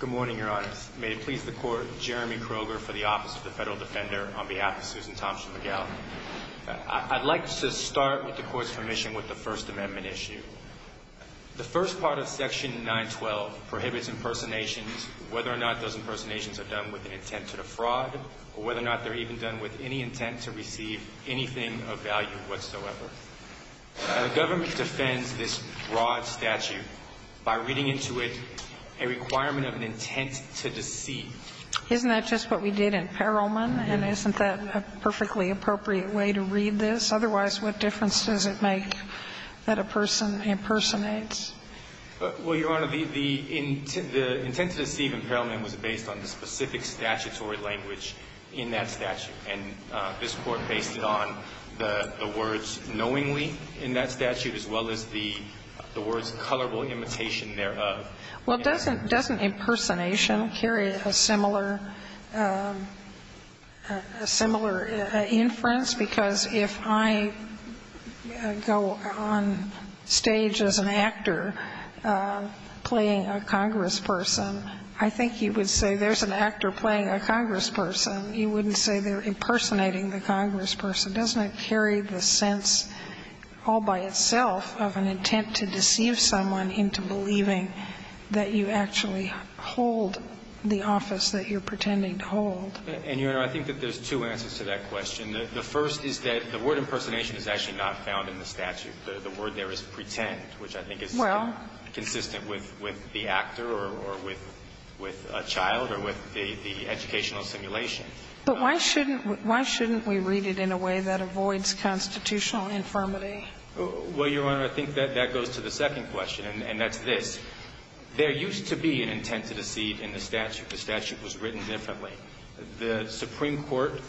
Good morning, Your Honors. May it please the Court, Jeremy Kroger for the Office of the Federal Defender on behalf of Susan Tomsha-Miguel. I'd like to start, with the Court's permission, with the First Amendment issue. The first part of Section 912 prohibits impersonations, whether or not those impersonations are done with an intent to defraud, or whether or not they're even done with any intent to receive anything of value whatsoever. A government defends this broad statute by reading into it a requirement of an intent to deceive. Isn't that just what we did in Perelman, and isn't that a perfectly appropriate way to read this? Otherwise, what difference does it make that a person impersonates? Well, Your Honor, the intent to deceive in Perelman was based on the specific statutory language in that statute. And this Court based it on the words knowingly in that statute, as well as the words colorable imitation thereof. Well, doesn't impersonation carry a similar, a similar inference? Because if I go on stage as an actor playing a congressperson, I think you would say there's an actor playing a congressperson. You wouldn't say they're impersonating the congressperson. Doesn't it carry the sense all by itself of an intent to deceive someone into believing that you actually hold the office that you're pretending to hold? And, Your Honor, I think that there's two answers to that question. The first is that the word impersonation is actually not found in the statute. The word there is pretend, which I think is consistent with the actor or with a child or with the educational simulation. But why shouldn't we read it in a way that avoids constitutional infirmity? Well, Your Honor, I think that that goes to the second question, and that's this. There used to be an intent to deceive in the statute. The statute was written differently. The Supreme Court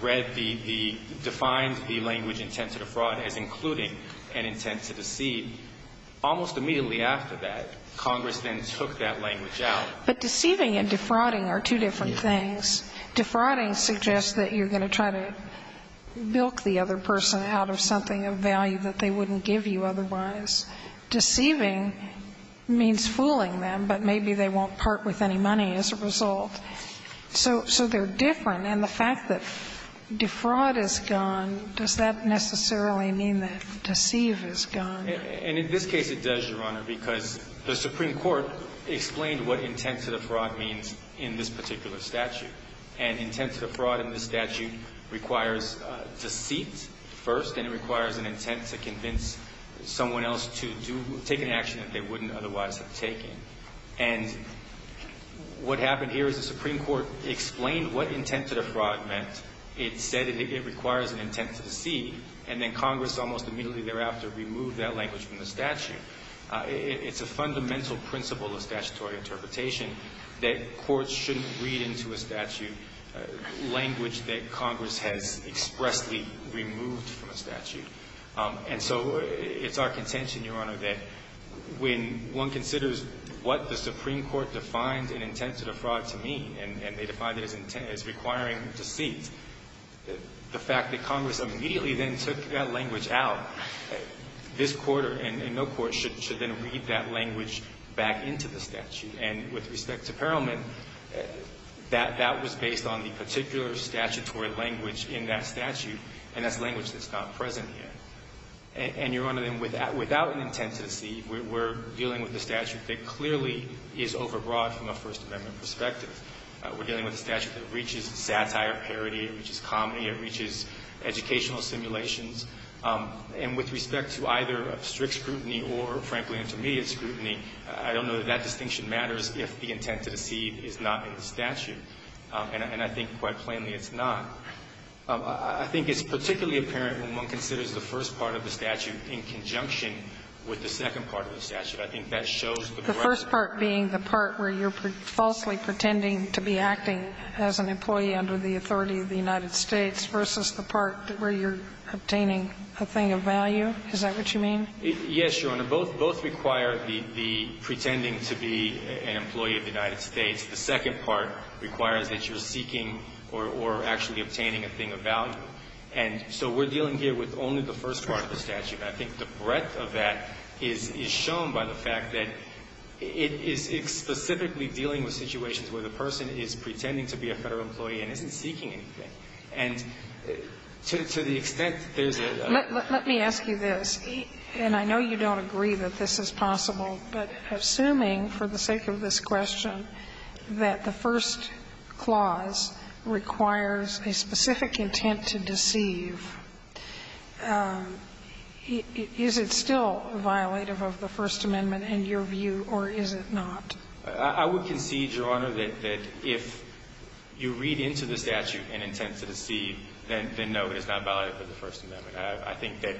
read the defined the language intent to defraud as including an intent to deceive. Almost immediately after that, Congress then took that language out. But deceiving and defrauding are two different things. Defrauding suggests that you're going to try to bilk the other person out of something of value that they wouldn't give you otherwise. Deceiving means fooling them, but maybe they won't part with any money as a result. So they're different. And the fact that defraud is gone, does that necessarily mean that deceive is gone? And in this case, it does, Your Honor, because the Supreme Court explained what intent to defraud means in this particular statute. And intent to defraud in this statute requires deceit first, and it requires an intent to convince someone else to take an action that they wouldn't otherwise have taken. And what happened here is the Supreme Court explained what intent to defraud meant. It said it requires an intent to deceive. And then Congress almost immediately thereafter removed that language from the statute. It's a fundamental principle of statutory interpretation that courts shouldn't read into a statute language that Congress has expressly removed from a statute. And so it's our contention, Your Honor, that when one considers what the Supreme Court defined an intent to defraud to mean, and they defined it as requiring deceit, the fact that Congress immediately then took that language out, this Court and no court should then read that language back into the statute. And with respect to Perelman, that was based on the particular statutory language in that statute, and that's language that's not present here. And, Your Honor, then without an intent to deceive, we're dealing with a statute that clearly is overbroad from a First Amendment perspective. We're dealing with a statute that reaches satire, parody. It reaches comedy. It reaches educational simulations. And with respect to either strict scrutiny or, frankly, intermediate scrutiny, I don't know that that distinction matters if the intent to deceive is not in the statute. And I think quite plainly it's not. I think it's particularly apparent when one considers the first part of the statute in conjunction with the second part of the statute. I think that shows the breadth. The first part being the part where you're falsely pretending to be acting as an employee under the authority of the United States versus the part where you're obtaining a thing of value, is that what you mean? Yes, Your Honor. Both require the pretending to be an employee of the United States. The second part requires that you're seeking or actually obtaining a thing of value. And so we're dealing here with only the first part of the statute. And I think the breadth of that is shown by the fact that it is specifically dealing with situations where the person is pretending to be a Federal employee and isn't seeking anything. And to the extent there's a ---- Let me ask you this. And I know you don't agree that this is possible. But assuming, for the sake of this question, that the first clause requires a specific intent to deceive, is it still violative of the First Amendment in your view, or is it not? I would concede, Your Honor, that if you read into the statute an intent to deceive, then no, it is not violative of the First Amendment. I think that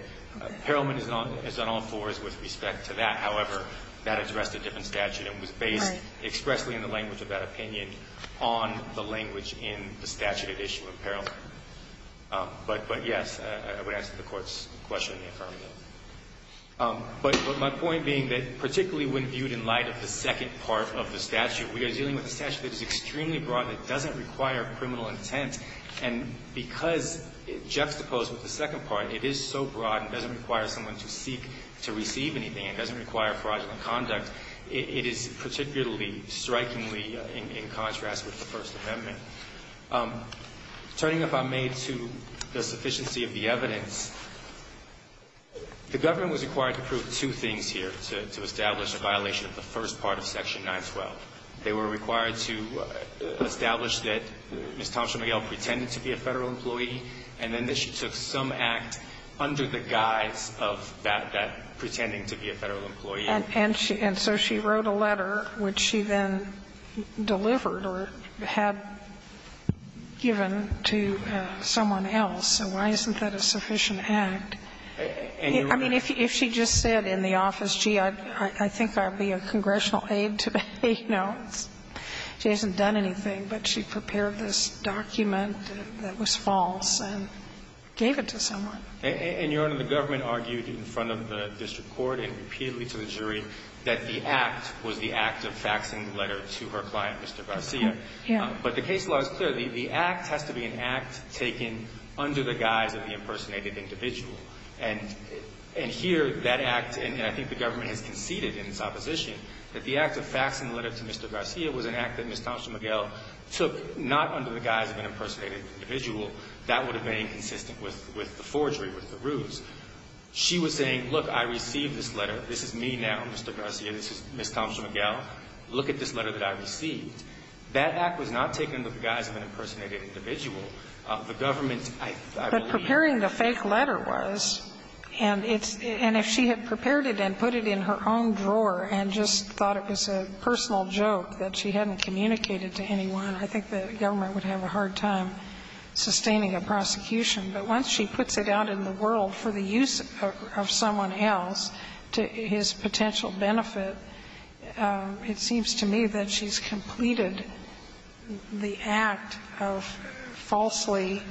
Perelman is on all fours with respect to that. However, that addressed a different statute and was based expressly in the language of that opinion on the language in the statute at issue of Perelman. But, yes, I would answer the Court's question in the affirmative. But my point being that particularly when viewed in light of the second part of the statute, we are dealing with a statute that is extremely broad that doesn't require criminal intent. And because it juxtaposed with the second part, it is so broad, it doesn't require someone to seek to receive anything, it doesn't require fraudulent conduct, it is particularly strikingly in contrast with the First Amendment. Turning, if I may, to the sufficiency of the evidence, the government was required to prove two things here, to establish a violation of the first part of section 912. They were required to establish that Ms. Thompson McGill pretended to be a Federal employee, and then that she took some act under the guise of that, that pretending to be a Federal employee. And so she wrote a letter, which she then delivered or had given to someone else. So why isn't that a sufficient act? I mean, if she just said in the office, gee, I think I'll be a congressional aide today, you know, she hasn't done anything, but she prepared this document that was false and gave it to someone. And, Your Honor, the government argued in front of the district court and repeatedly to the jury that the act was the act of faxing the letter to her client, Mr. Garcia. But the case law is clear. The act has to be an act taken under the guise of the impersonated individual. And here, that act, and I think the government has conceded in its opposition, that the act of faxing the letter to Mr. Garcia was an act that Ms. Thompson McGill took not under the guise of an impersonated individual. That would have been consistent with the forgery, with the ruse. She was saying, look, I received this letter. This is me now, Mr. Garcia. This is Ms. Thompson McGill. Look at this letter that I received. That act was not taken under the guise of an impersonated individual. The government, I believe that's not true. But preparing the fake letter was. And if she had prepared it and put it in her own drawer and just thought it was a personal joke that she hadn't communicated to anyone, I think the government would have a hard time sustaining a prosecution. But once she puts it out in the world for the use of someone else, to his potential benefit, it seems to me that she's completed the act of falsely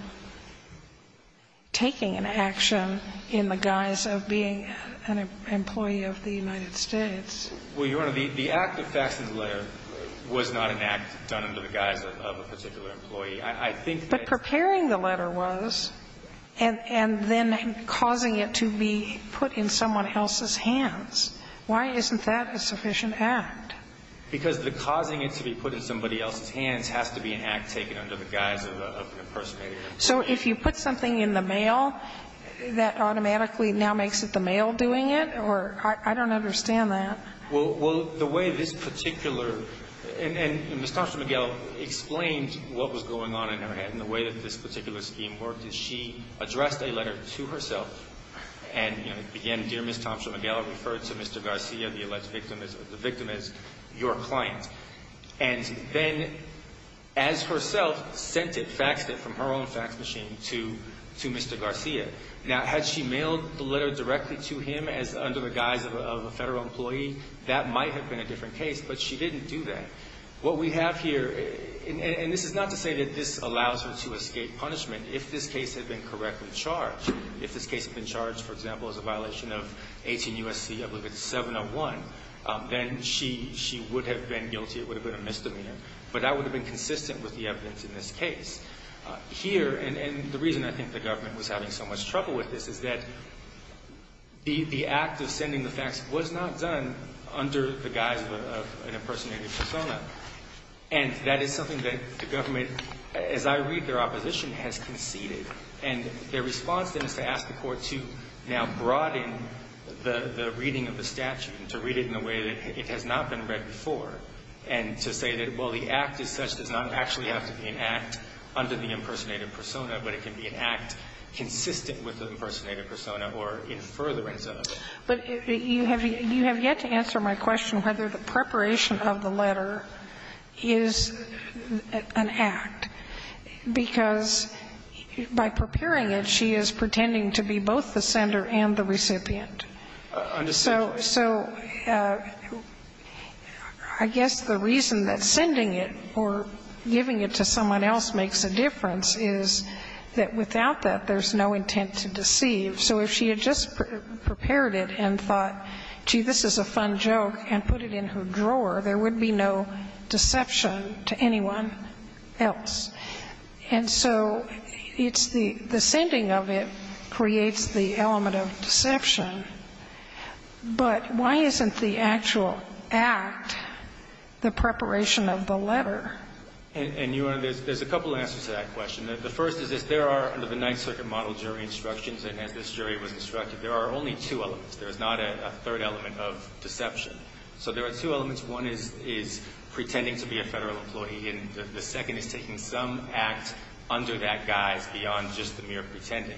taking an action in the guise of being an employee of the United States. Well, Your Honor, the act of faxing the letter was not an act done under the guise of a particular employee. I think that. But preparing the letter was. And then causing it to be put in someone else's hands. Why isn't that a sufficient act? Because the causing it to be put in somebody else's hands has to be an act taken under the guise of an impersonated employee. So if you put something in the mail, that automatically now makes it the mail doing Or I don't understand that. Well, the way this particular, and Ms. Thompson-Miguel explained what was going on in her head and the way that this particular scheme worked is she addressed a letter to herself and began, Dear Ms. Thompson-Miguel, refer to Mr. Garcia, the alleged victim, the victim as your client. And then, as herself, sent it, faxed it from her own fax machine to Mr. Garcia. Now, had she mailed the letter directly to him under the guise of a federal employee, that might have been a different case. But she didn't do that. What we have here, and this is not to say that this allows her to escape punishment. If this case had been correctly charged, if this case had been charged, for example, as a violation of 18 U.S.C. 701, then she would have been guilty. It would have been a misdemeanor. But that would have been consistent with the evidence in this case. Here, and the reason I think the government was having so much trouble with this is that the act of sending the fax was not done under the guise of an impersonated persona. And that is something that the government, as I read their opposition, has conceded. And their response then is to ask the Court to now broaden the reading of the statute and to read it in a way that it has not been read before and to say that, well, the impersonated persona, but it can be an act consistent with the impersonated persona or in furtherance of it. But you have yet to answer my question whether the preparation of the letter is an act. Because by preparing it, she is pretending to be both the sender and the recipient. Understandably. So I guess the reason that sending it or giving it to someone else makes a difference is that without that, there's no intent to deceive. So if she had just prepared it and thought, gee, this is a fun joke, and put it in her drawer, there would be no deception to anyone else. And so it's the sending of it creates the element of deception. But why isn't the actual act the preparation of the letter? And, Your Honor, there's a couple answers to that question. The first is there are, under the Ninth Circuit model jury instructions, and as this jury was instructed, there are only two elements. There is not a third element of deception. So there are two elements. One is pretending to be a Federal employee. And the second is taking some act under that guise beyond just the mere pretending.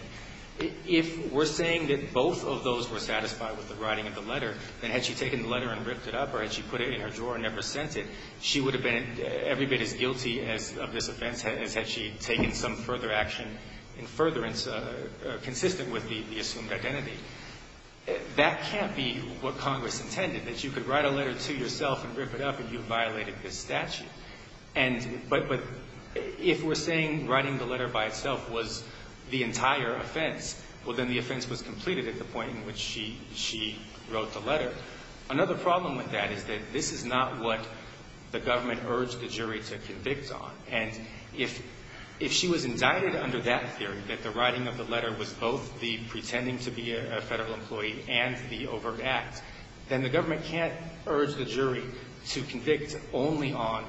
If we're saying that both of those were satisfied with the writing of the letter, then had she taken the letter and ripped it up or had she put it in her drawer and never sent it, she would have been every bit as guilty of this offense as had she taken some further action in furtherance consistent with the assumed identity. That can't be what Congress intended, that you could write a letter to yourself and rip it up and you violated this statute. But if we're saying writing the letter by itself was the entire offense, well, then the offense was completed at the point in which she wrote the letter. Another problem with that is that this is not what the government urged the jury to convict on. And if she was indicted under that theory, that the writing of the letter was both the pretending to be a Federal employee and the overt act, then the government can't urge the jury to convict only on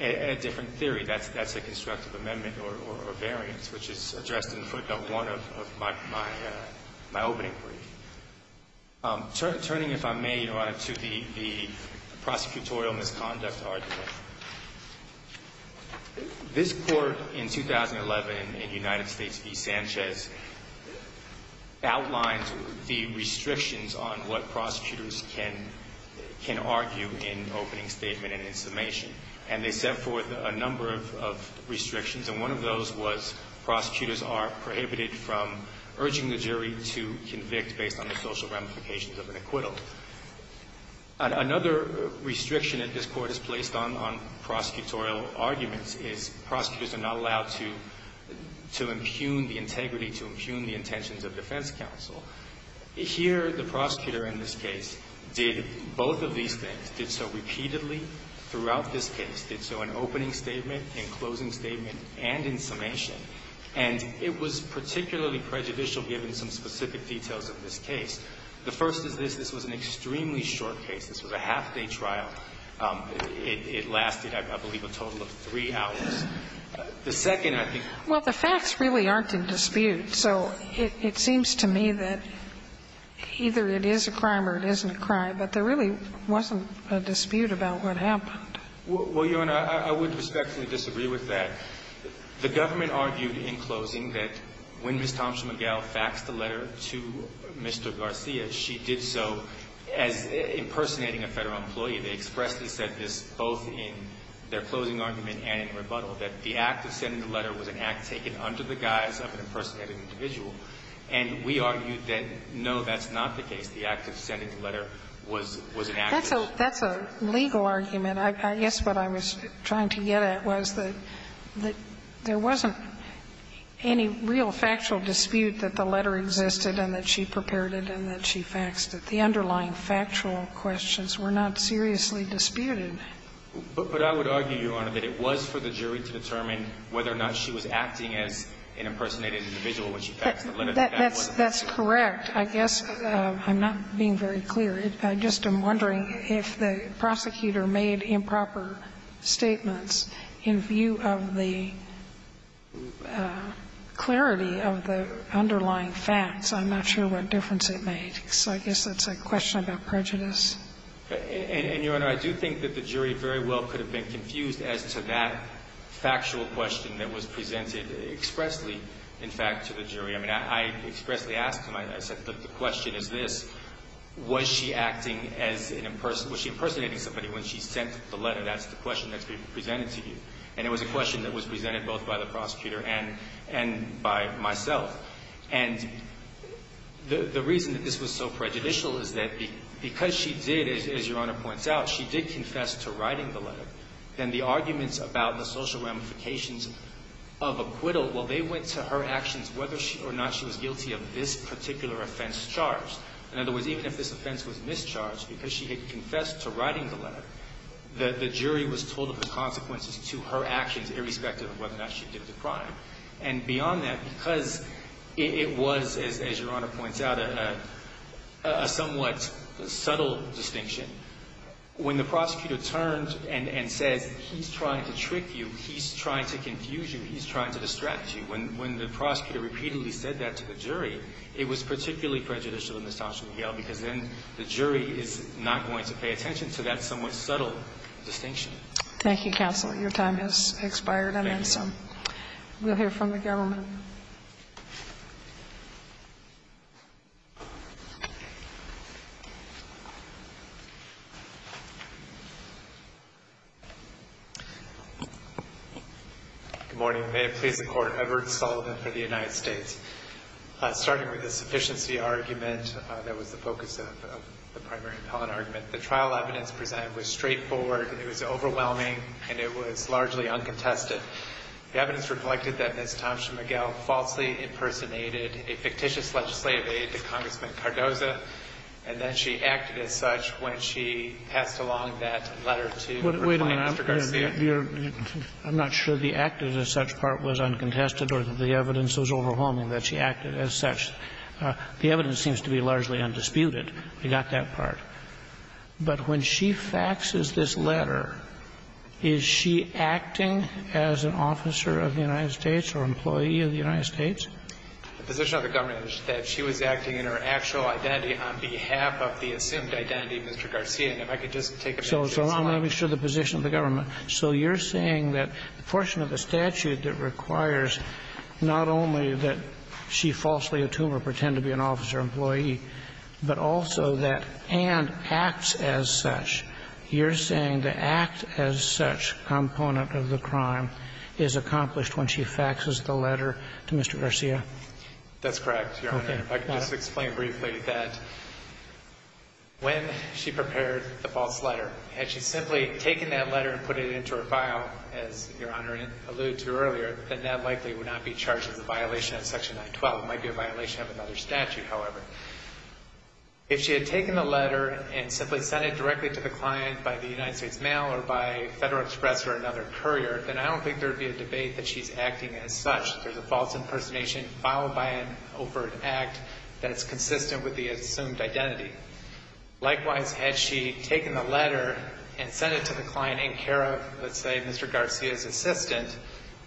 a different theory. That's a constructive amendment or variance, which is addressed in footnote 1 of my opening brief. Turning, if I may, Your Honor, to the prosecutorial misconduct argument. This Court in 2011 in the United States v. Sanchez outlined the restrictions on what prosecutors can argue in opening statement and in summation. And they set forth a number of restrictions, and one of those was prosecutors are prohibited from urging the jury to convict based on the social ramifications of an acquittal. Another restriction that this Court has placed on prosecutorial arguments is prosecutors are not allowed to impugn the integrity, to impugn the intentions of defense counsel. Here, the prosecutor in this case did both of these things, did so repeatedly throughout this case, did so in opening statement, in closing statement, and in summation. And it was particularly prejudicial given some specific details of this case. The first is this. This was an extremely short case. This was a half-day trial. It lasted, I believe, a total of three hours. The second, I think ---- Well, the facts really aren't in dispute. So it seems to me that either it is a crime or it isn't a crime. But there really wasn't a dispute about what happened. Well, Your Honor, I would respectfully disagree with that. The government argued in closing that when Ms. Thompson-McGill faxed the letter to Mr. Garcia, she did so as impersonating a Federal employee. They expressly said this both in their closing argument and in rebuttal, that the act of sending the letter was an act taken under the guise of an impersonated individual. And we argued that, no, that's not the case. The act of sending the letter was an act of impersonation. That's a legal argument. I guess what I was trying to get at was that there wasn't any real factual dispute that the letter existed and that she prepared it and that she faxed it. The underlying factual questions were not seriously disputed. But I would argue, Your Honor, that it was for the jury to determine whether or not she was acting as an impersonated individual when she faxed the letter. That's correct. I guess I'm not being very clear. I just am wondering if the prosecutor made improper statements in view of the clarity of the underlying facts. I'm not sure what difference it made. So I guess that's a question about prejudice. And, Your Honor, I do think that the jury very well could have been confused as to that factual question that was presented expressly, in fact, to the jury. I mean, I expressly asked him. I said, look, the question is this. Was she acting as an impersonator? Was she impersonating somebody when she sent the letter? That's the question that's being presented to you. And it was a question that was presented both by the prosecutor and by myself. And the reason that this was so prejudicial is that because she did, as Your Honor points out, she did confess to writing the letter. Then the arguments about the social ramifications of acquittal, well, they went to her whether or not she was guilty of this particular offense charged. In other words, even if this offense was mischarged because she had confessed to writing the letter, the jury was told of the consequences to her actions irrespective of whether or not she did the crime. And beyond that, because it was, as Your Honor points out, a somewhat subtle distinction, when the prosecutor turned and says he's trying to trick you, he's trying to confuse you, he's trying to distract you, when the prosecutor repeatedly said that to the jury, it was particularly prejudicial in this doctrine of Yale because then the jury is not going to pay attention to that somewhat subtle distinction. Thank you, counsel. Your time has expired. Thank you. We'll hear from the government. Good morning. May it please the Court. Edward Sullivan for the United States. Starting with the sufficiency argument that was the focus of the primary appellant argument, the trial evidence presented was straightforward. It was overwhelming, and it was largely uncontested. The evidence reflected that Ms. Thompson McGill falsely impersonated a fictitious legislative aide to Congressman Cardoza, and then she acted as such when she passed along that letter to Recline, Mr. Garcia. Your Honor, I'm not sure the acted as such part was uncontested or that the evidence was overwhelming that she acted as such. The evidence seems to be largely undisputed. We got that part. But when she faxes this letter, is she acting as an officer of the United States or employee of the United States? The position of the government is that she was acting in her actual identity on behalf of the assumed identity of Mr. Garcia. And if I could just take a minute. So I'm not sure the position of the government. So you're saying that the portion of the statute that requires not only that she falsely attuned or pretended to be an officer or employee, but also that and acts as such, you're saying the act as such component of the crime is accomplished when she faxes the letter to Mr. Garcia? That's correct, Your Honor. Okay. I can just explain briefly that when she prepared the false letter, had she simply taken that letter and put it into her file, as Your Honor alluded to earlier, then that likely would not be charged as a violation of Section 912. It might be a violation of another statute, however. If she had taken the letter and simply sent it directly to the client by the United States Mail or by Federal Express or another courier, then I don't think there would be a debate that she's acting as such. There's a false impersonation followed by an overt act that's consistent with the assumed identity. Likewise, had she taken the letter and sent it to the client in care of, let's say, Mr. Garcia's assistant,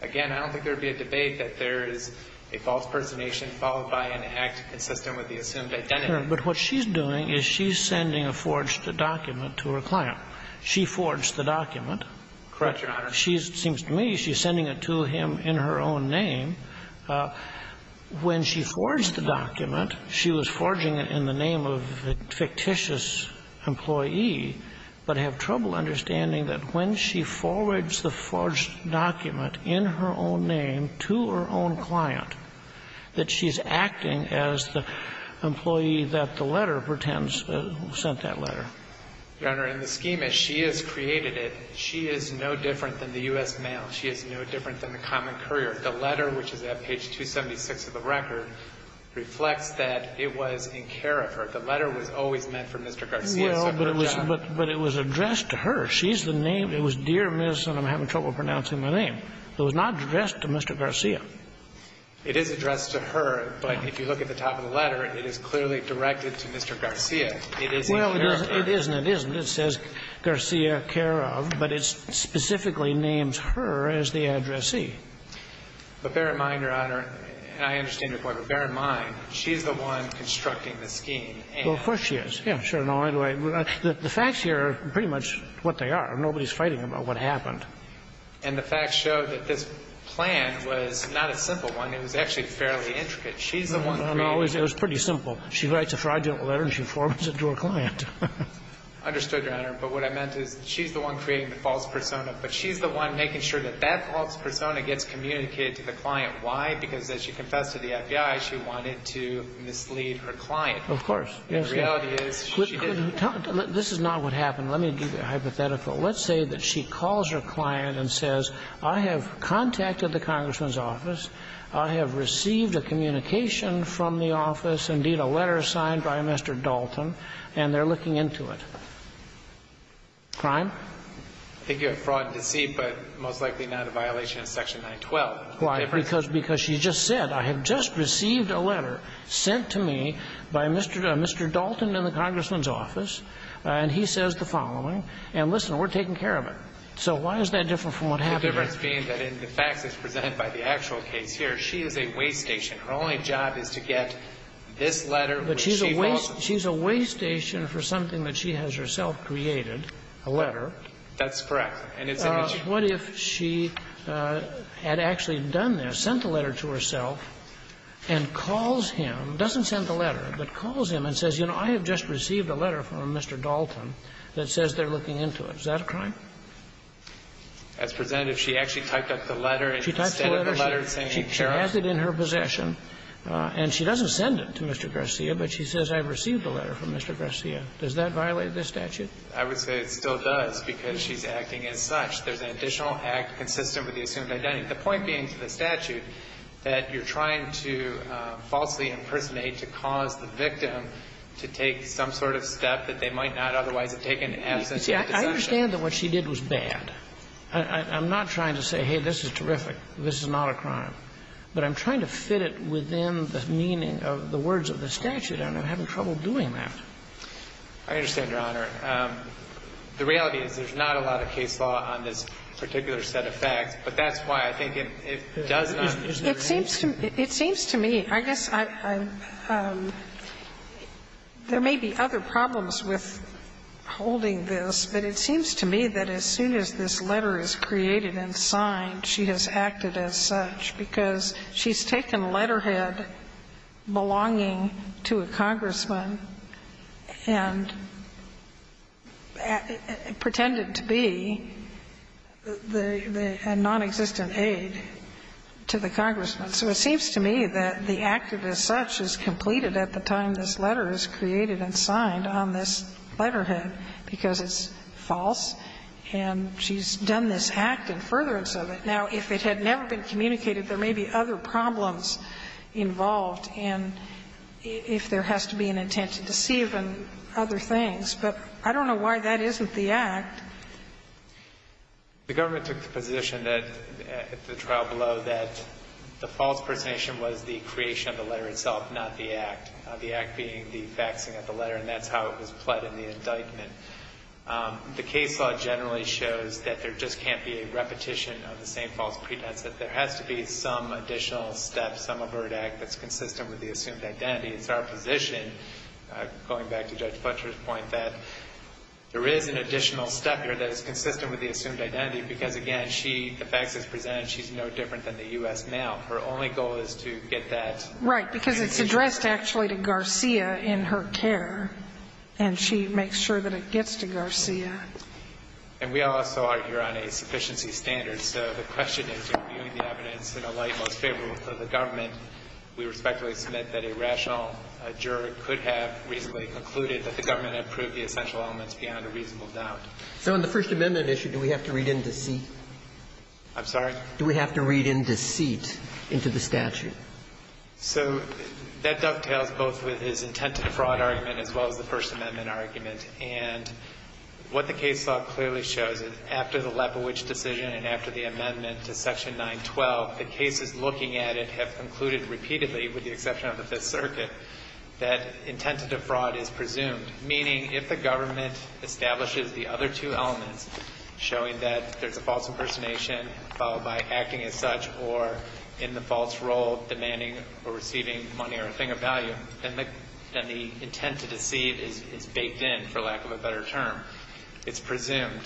again, I don't think there would be a debate that there is a false impersonation followed by an act consistent with the assumed identity. But what she's doing is she's sending a forged document to her client. She forged the document. Correct, Your Honor. She's, it seems to me, she's sending it to him in her own name. When she forged the document, she was forging it in the name of a fictitious employee, but I have trouble understanding that when she forged the forged document in her own name to her own client, that she's acting as the employee that the letter pretends sent that letter. Your Honor, in the schema, she has created it. She is no different than the U.S. mail. She is no different than the common courier. The letter, which is at page 276 of the record, reflects that it was in care of her. The letter was always meant for Mr. Garcia's separate job. Well, but it was addressed to her. She's the name. It was Dear Miss, and I'm having trouble pronouncing my name. It was not addressed to Mr. Garcia. It is addressed to her, but if you look at the top of the letter, it is clearly directed to Mr. Garcia. It is in care of her. Well, it is and it isn't. It says Garcia care of, but it specifically names her as the addressee. But bear in mind, Your Honor, and I understand your point, but bear in mind, she's the one constructing the scheme. Well, of course she is. Yeah, sure. Anyway, the facts here are pretty much what they are. Nobody's fighting about what happened. And the facts show that this plan was not a simple one. It was actually fairly intricate. She's the one creating it. No, no, no. It was pretty simple. She writes a fraudulent letter and she forwards it to her client. I understood, Your Honor, but what I meant is she's the one creating the false persona, but she's the one making sure that that false persona gets communicated to the client. Why? Because as she confessed to the FBI, she wanted to mislead her client. Of course. The reality is she didn't. This is not what happened. Let me give you a hypothetical. Let's say that she calls her client and says, I have contacted the Congressman's office, indeed a letter signed by Mr. Dalton, and they're looking into it. Crime? I think you have fraud and deceit, but most likely not a violation of Section 912. Why? Because she just said, I have just received a letter sent to me by Mr. Dalton in the Congressman's office, and he says the following. And listen, we're taking care of it. So why is that different from what happened? The difference being that in the facts as presented by the actual case here, she is a weigh station. Her only job is to get this letter which she wants. But she's a weigh station for something that she has herself created, a letter. That's correct. And it's an issue. What if she had actually done this, sent the letter to herself, and calls him, doesn't send the letter, but calls him and says, you know, I have just received a letter from Mr. Dalton that says they're looking into it. Is that a crime? As presented, if she actually typed up the letter and sent it to the letter saying she has it in her possession, and she doesn't send it to Mr. Garcia, but she says I've received a letter from Mr. Garcia, does that violate this statute? I would say it still does, because she's acting as such. There's an additional act consistent with the assumed identity. The point being to the statute that you're trying to falsely impersonate to cause the victim to take some sort of step that they might not otherwise have taken absent of the decision. I understand that what she did was bad. I'm not trying to say, hey, this is terrific. This is not a crime. But I'm trying to fit it within the meaning of the words of the statute and I'm having trouble doing that. I understand, Your Honor. The reality is there's not a lot of case law on this particular set of facts, but that's why I think it does not. It seems to me, it seems to me, I guess I'm – there may be other problems with holding this, but it seems to me that as soon as this letter is created and signed, she has acted as such, because she's taken letterhead belonging to a congressman and pretended to be the – a nonexistent aide to the congressman. So it seems to me that the act of as such is completed at the time this letter is created and signed on this letterhead, because it's false and she's done this act in furtherance of it. Now, if it had never been communicated, there may be other problems involved and if there has to be an intent to deceive and other things. But I don't know why that isn't the act. The government took the position that, at the trial below, that the false presentation was the creation of the letter itself, not the act, the act being the faxing of the letter, and that's how it was pled in the indictment. The case law generally shows that there just can't be a repetition of the same false pretense, that there has to be some additional step, some overt act that's consistent with the assumed identity. It's our position, going back to Judge Fletcher's point, that there is an additional step here that is consistent with the assumed identity, because, again, she – the fax is presented, she's no different than the U.S. male. Her only goal is to get that – Right, because it's addressed actually to Garcia in her care, and she makes sure that it gets to Garcia. And we also argue on a sufficiency standard. So the question is, in viewing the evidence in a light most favorable for the government, we respectfully submit that a rational juror could have reasonably concluded that the government had proved the essential elements beyond a reasonable doubt. So on the First Amendment issue, do we have to read in deceit? I'm sorry? Do we have to read in deceit into the statute? So that dovetails both with his intent to defraud argument as well as the First Amendment. What the case law clearly shows is, after the Lebowitz decision and after the amendment to Section 912, the cases looking at it have concluded repeatedly, with the exception of the Fifth Circuit, that intent to defraud is presumed. Meaning, if the government establishes the other two elements, showing that there's a false impersonation followed by acting as such or in the false role, demanding or receiving money or a thing of value, then the intent to deceive is baked in, for lack of a better term. It's presumed.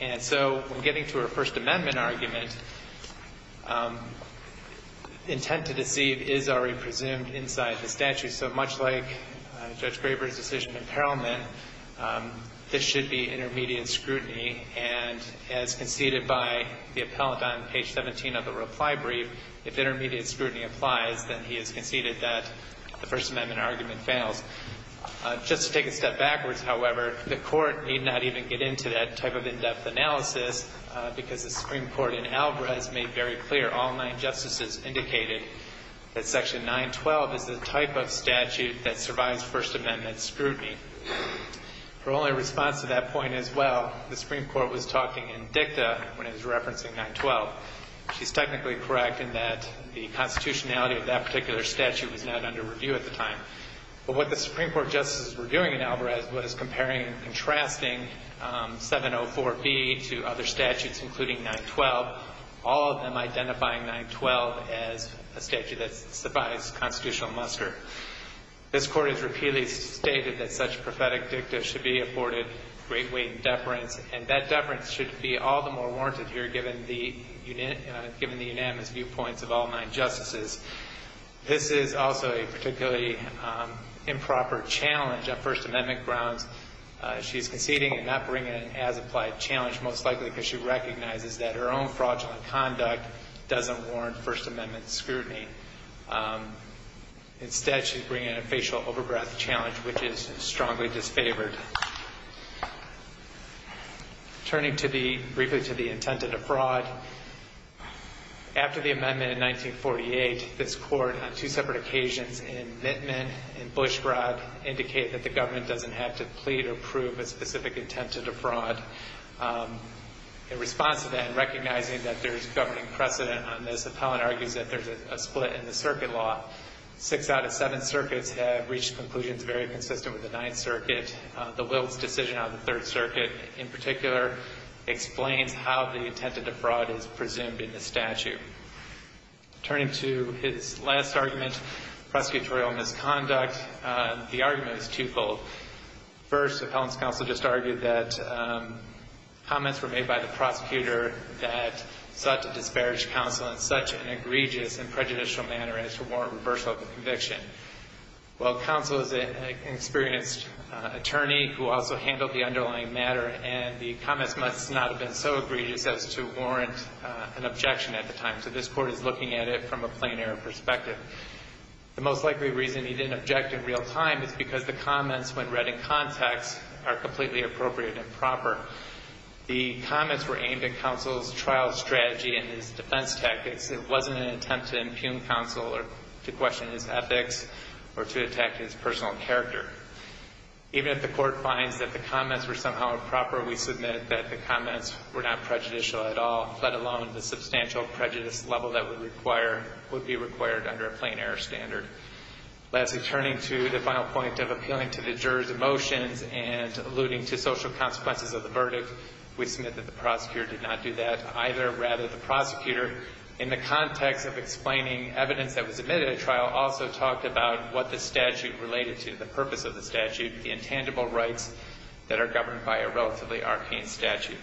And so when getting to a First Amendment argument, intent to deceive is already presumed inside the statute. So much like Judge Graber's decision in Parliament, this should be intermediate scrutiny. And as conceded by the appellant on page 17 of the reply brief, if intermediate scrutiny applies, then he has conceded that the First Amendment argument fails. Just to take a step backwards, however, the Court need not even get into that type of in-depth analysis, because the Supreme Court in ALGRA has made very clear, all nine justices indicated that Section 912 is the type of statute that survives First Amendment scrutiny. Her only response to that point is, well, the Supreme Court was talking in dicta when it was referencing 912. She's technically correct in that the constitutionality of that particular statute was not under review at the time. But what the Supreme Court justices were doing in ALGRA was comparing and contrasting 704B to other statutes, including 912, all of them identifying 912 as a statute that survives constitutional muster. This Court has repeatedly stated that such prophetic dicta should be afforded great weight and deference, and that deference should be all the more warranted here, given the unanimous viewpoints of all nine justices. This is also a particularly improper challenge on First Amendment grounds. She's conceding and not bringing an as-applied challenge, most likely because she recognizes that her own fraudulent conduct doesn't warrant First Amendment scrutiny. Instead, she's bringing a facial over-breath challenge, which is strongly disfavored. Turning briefly to the intent of the fraud, after the amendment in 1948, this Court, on two separate occasions, in amendment and Bush fraud, indicated that the government doesn't have to plead or prove a specific intent of the fraud. In response to that, and recognizing that there's governing precedent on this, Appellant argues that there's a split in the circuit law. Six out of seven circuits have reached conclusions very consistent with the Ninth Circuit. The Wiltz decision on the Third Circuit, in particular, explains how the intent of the fraud is presumed in the statute. Turning to his last argument, prosecutorial misconduct, the argument is two-fold. First, Appellant's counsel just argued that comments were made by the prosecutor that sought to disparage counsel in such an egregious and prejudicial manner as to warrant reversal of the conviction. Well, counsel is an experienced attorney who also handled the underlying matter, and the comments must not have been so egregious as to warrant an objection at the time. So this Court is looking at it from a plein air perspective. The most likely reason he didn't object in real time is because the comments, when read in context, are completely appropriate and proper. The comments were aimed at counsel's trial strategy and his defense tactics. It wasn't an attempt to impugn counsel or to question his ethics or to attack his personal character. Even if the Court finds that the comments were somehow improper, we submit that the comments were not prejudicial at all, let alone the substantial prejudice level that would require, would be required under a plein air standard. Lastly, turning to the final point of appealing to the juror's emotions and alluding to social consequences of the verdict, we submit that the prosecutor did not do that either. Rather, the prosecutor, in the context of explaining evidence that was admitted at trial, also talked about what the statute related to, the purpose of the statute, the intangible rights that are governed by a relatively arcane statute.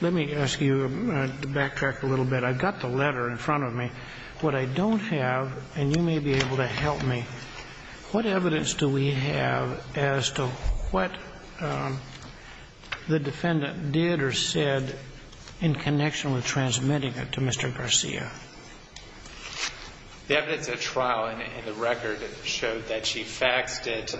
Let me ask you to backtrack a little bit. I've got the letter in front of me. What I don't have, and you may be able to help me, what evidence do we have as to what the defendant did or said in connection with transmitting it to Mr. Garcia? The evidence at trial in the record showed that she faxed it.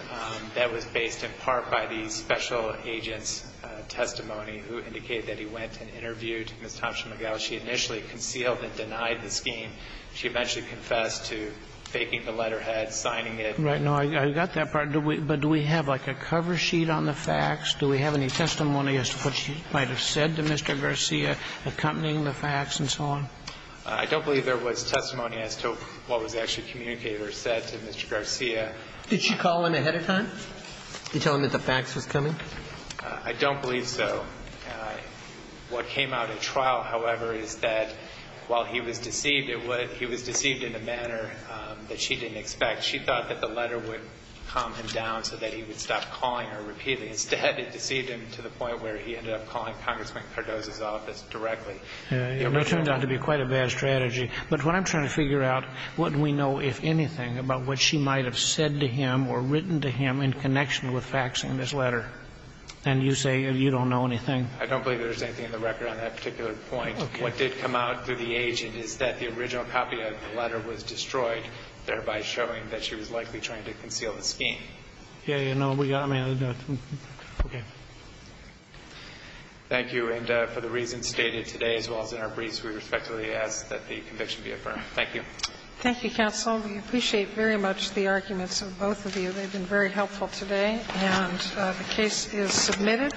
That was based in part by the special agent's testimony who indicated that he went and interviewed Ms. Thompson-McGill. She initially concealed and denied the scheme. She eventually confessed to faking the letterhead, signing it. Right. No, I got that part. But do we have, like, a cover sheet on the fax? Do we have any testimony as to what she might have said to Mr. Garcia accompanying the fax and so on? I don't believe there was testimony as to what was actually communicated or said to Mr. Garcia. Did she call him ahead of time to tell him that the fax was coming? I don't believe so. What came out at trial, however, is that while he was deceived, he was deceived in a manner that she didn't expect. She thought that the letter would calm him down so that he would stop calling her repeatedly. Instead, it deceived him to the point where he ended up calling Congressman Cardozo's office directly. It turned out to be quite a bad strategy. But what I'm trying to figure out, what do we know, if anything, about what she might have said to him or written to him in connection with faxing this letter? And you say you don't know anything. I don't believe there's anything in the record on that particular point. Okay. What did come out through the agent is that the original copy of the letter was destroyed, thereby showing that she was likely trying to conceal the scheme. Yeah, yeah. No, I mean, okay. Thank you. And for the reasons stated today as well as in our briefs, we respectfully ask that the conviction be affirmed. Thank you. Thank you, counsel. We appreciate very much the arguments of both of you. They've been very helpful today. And the case is submitted.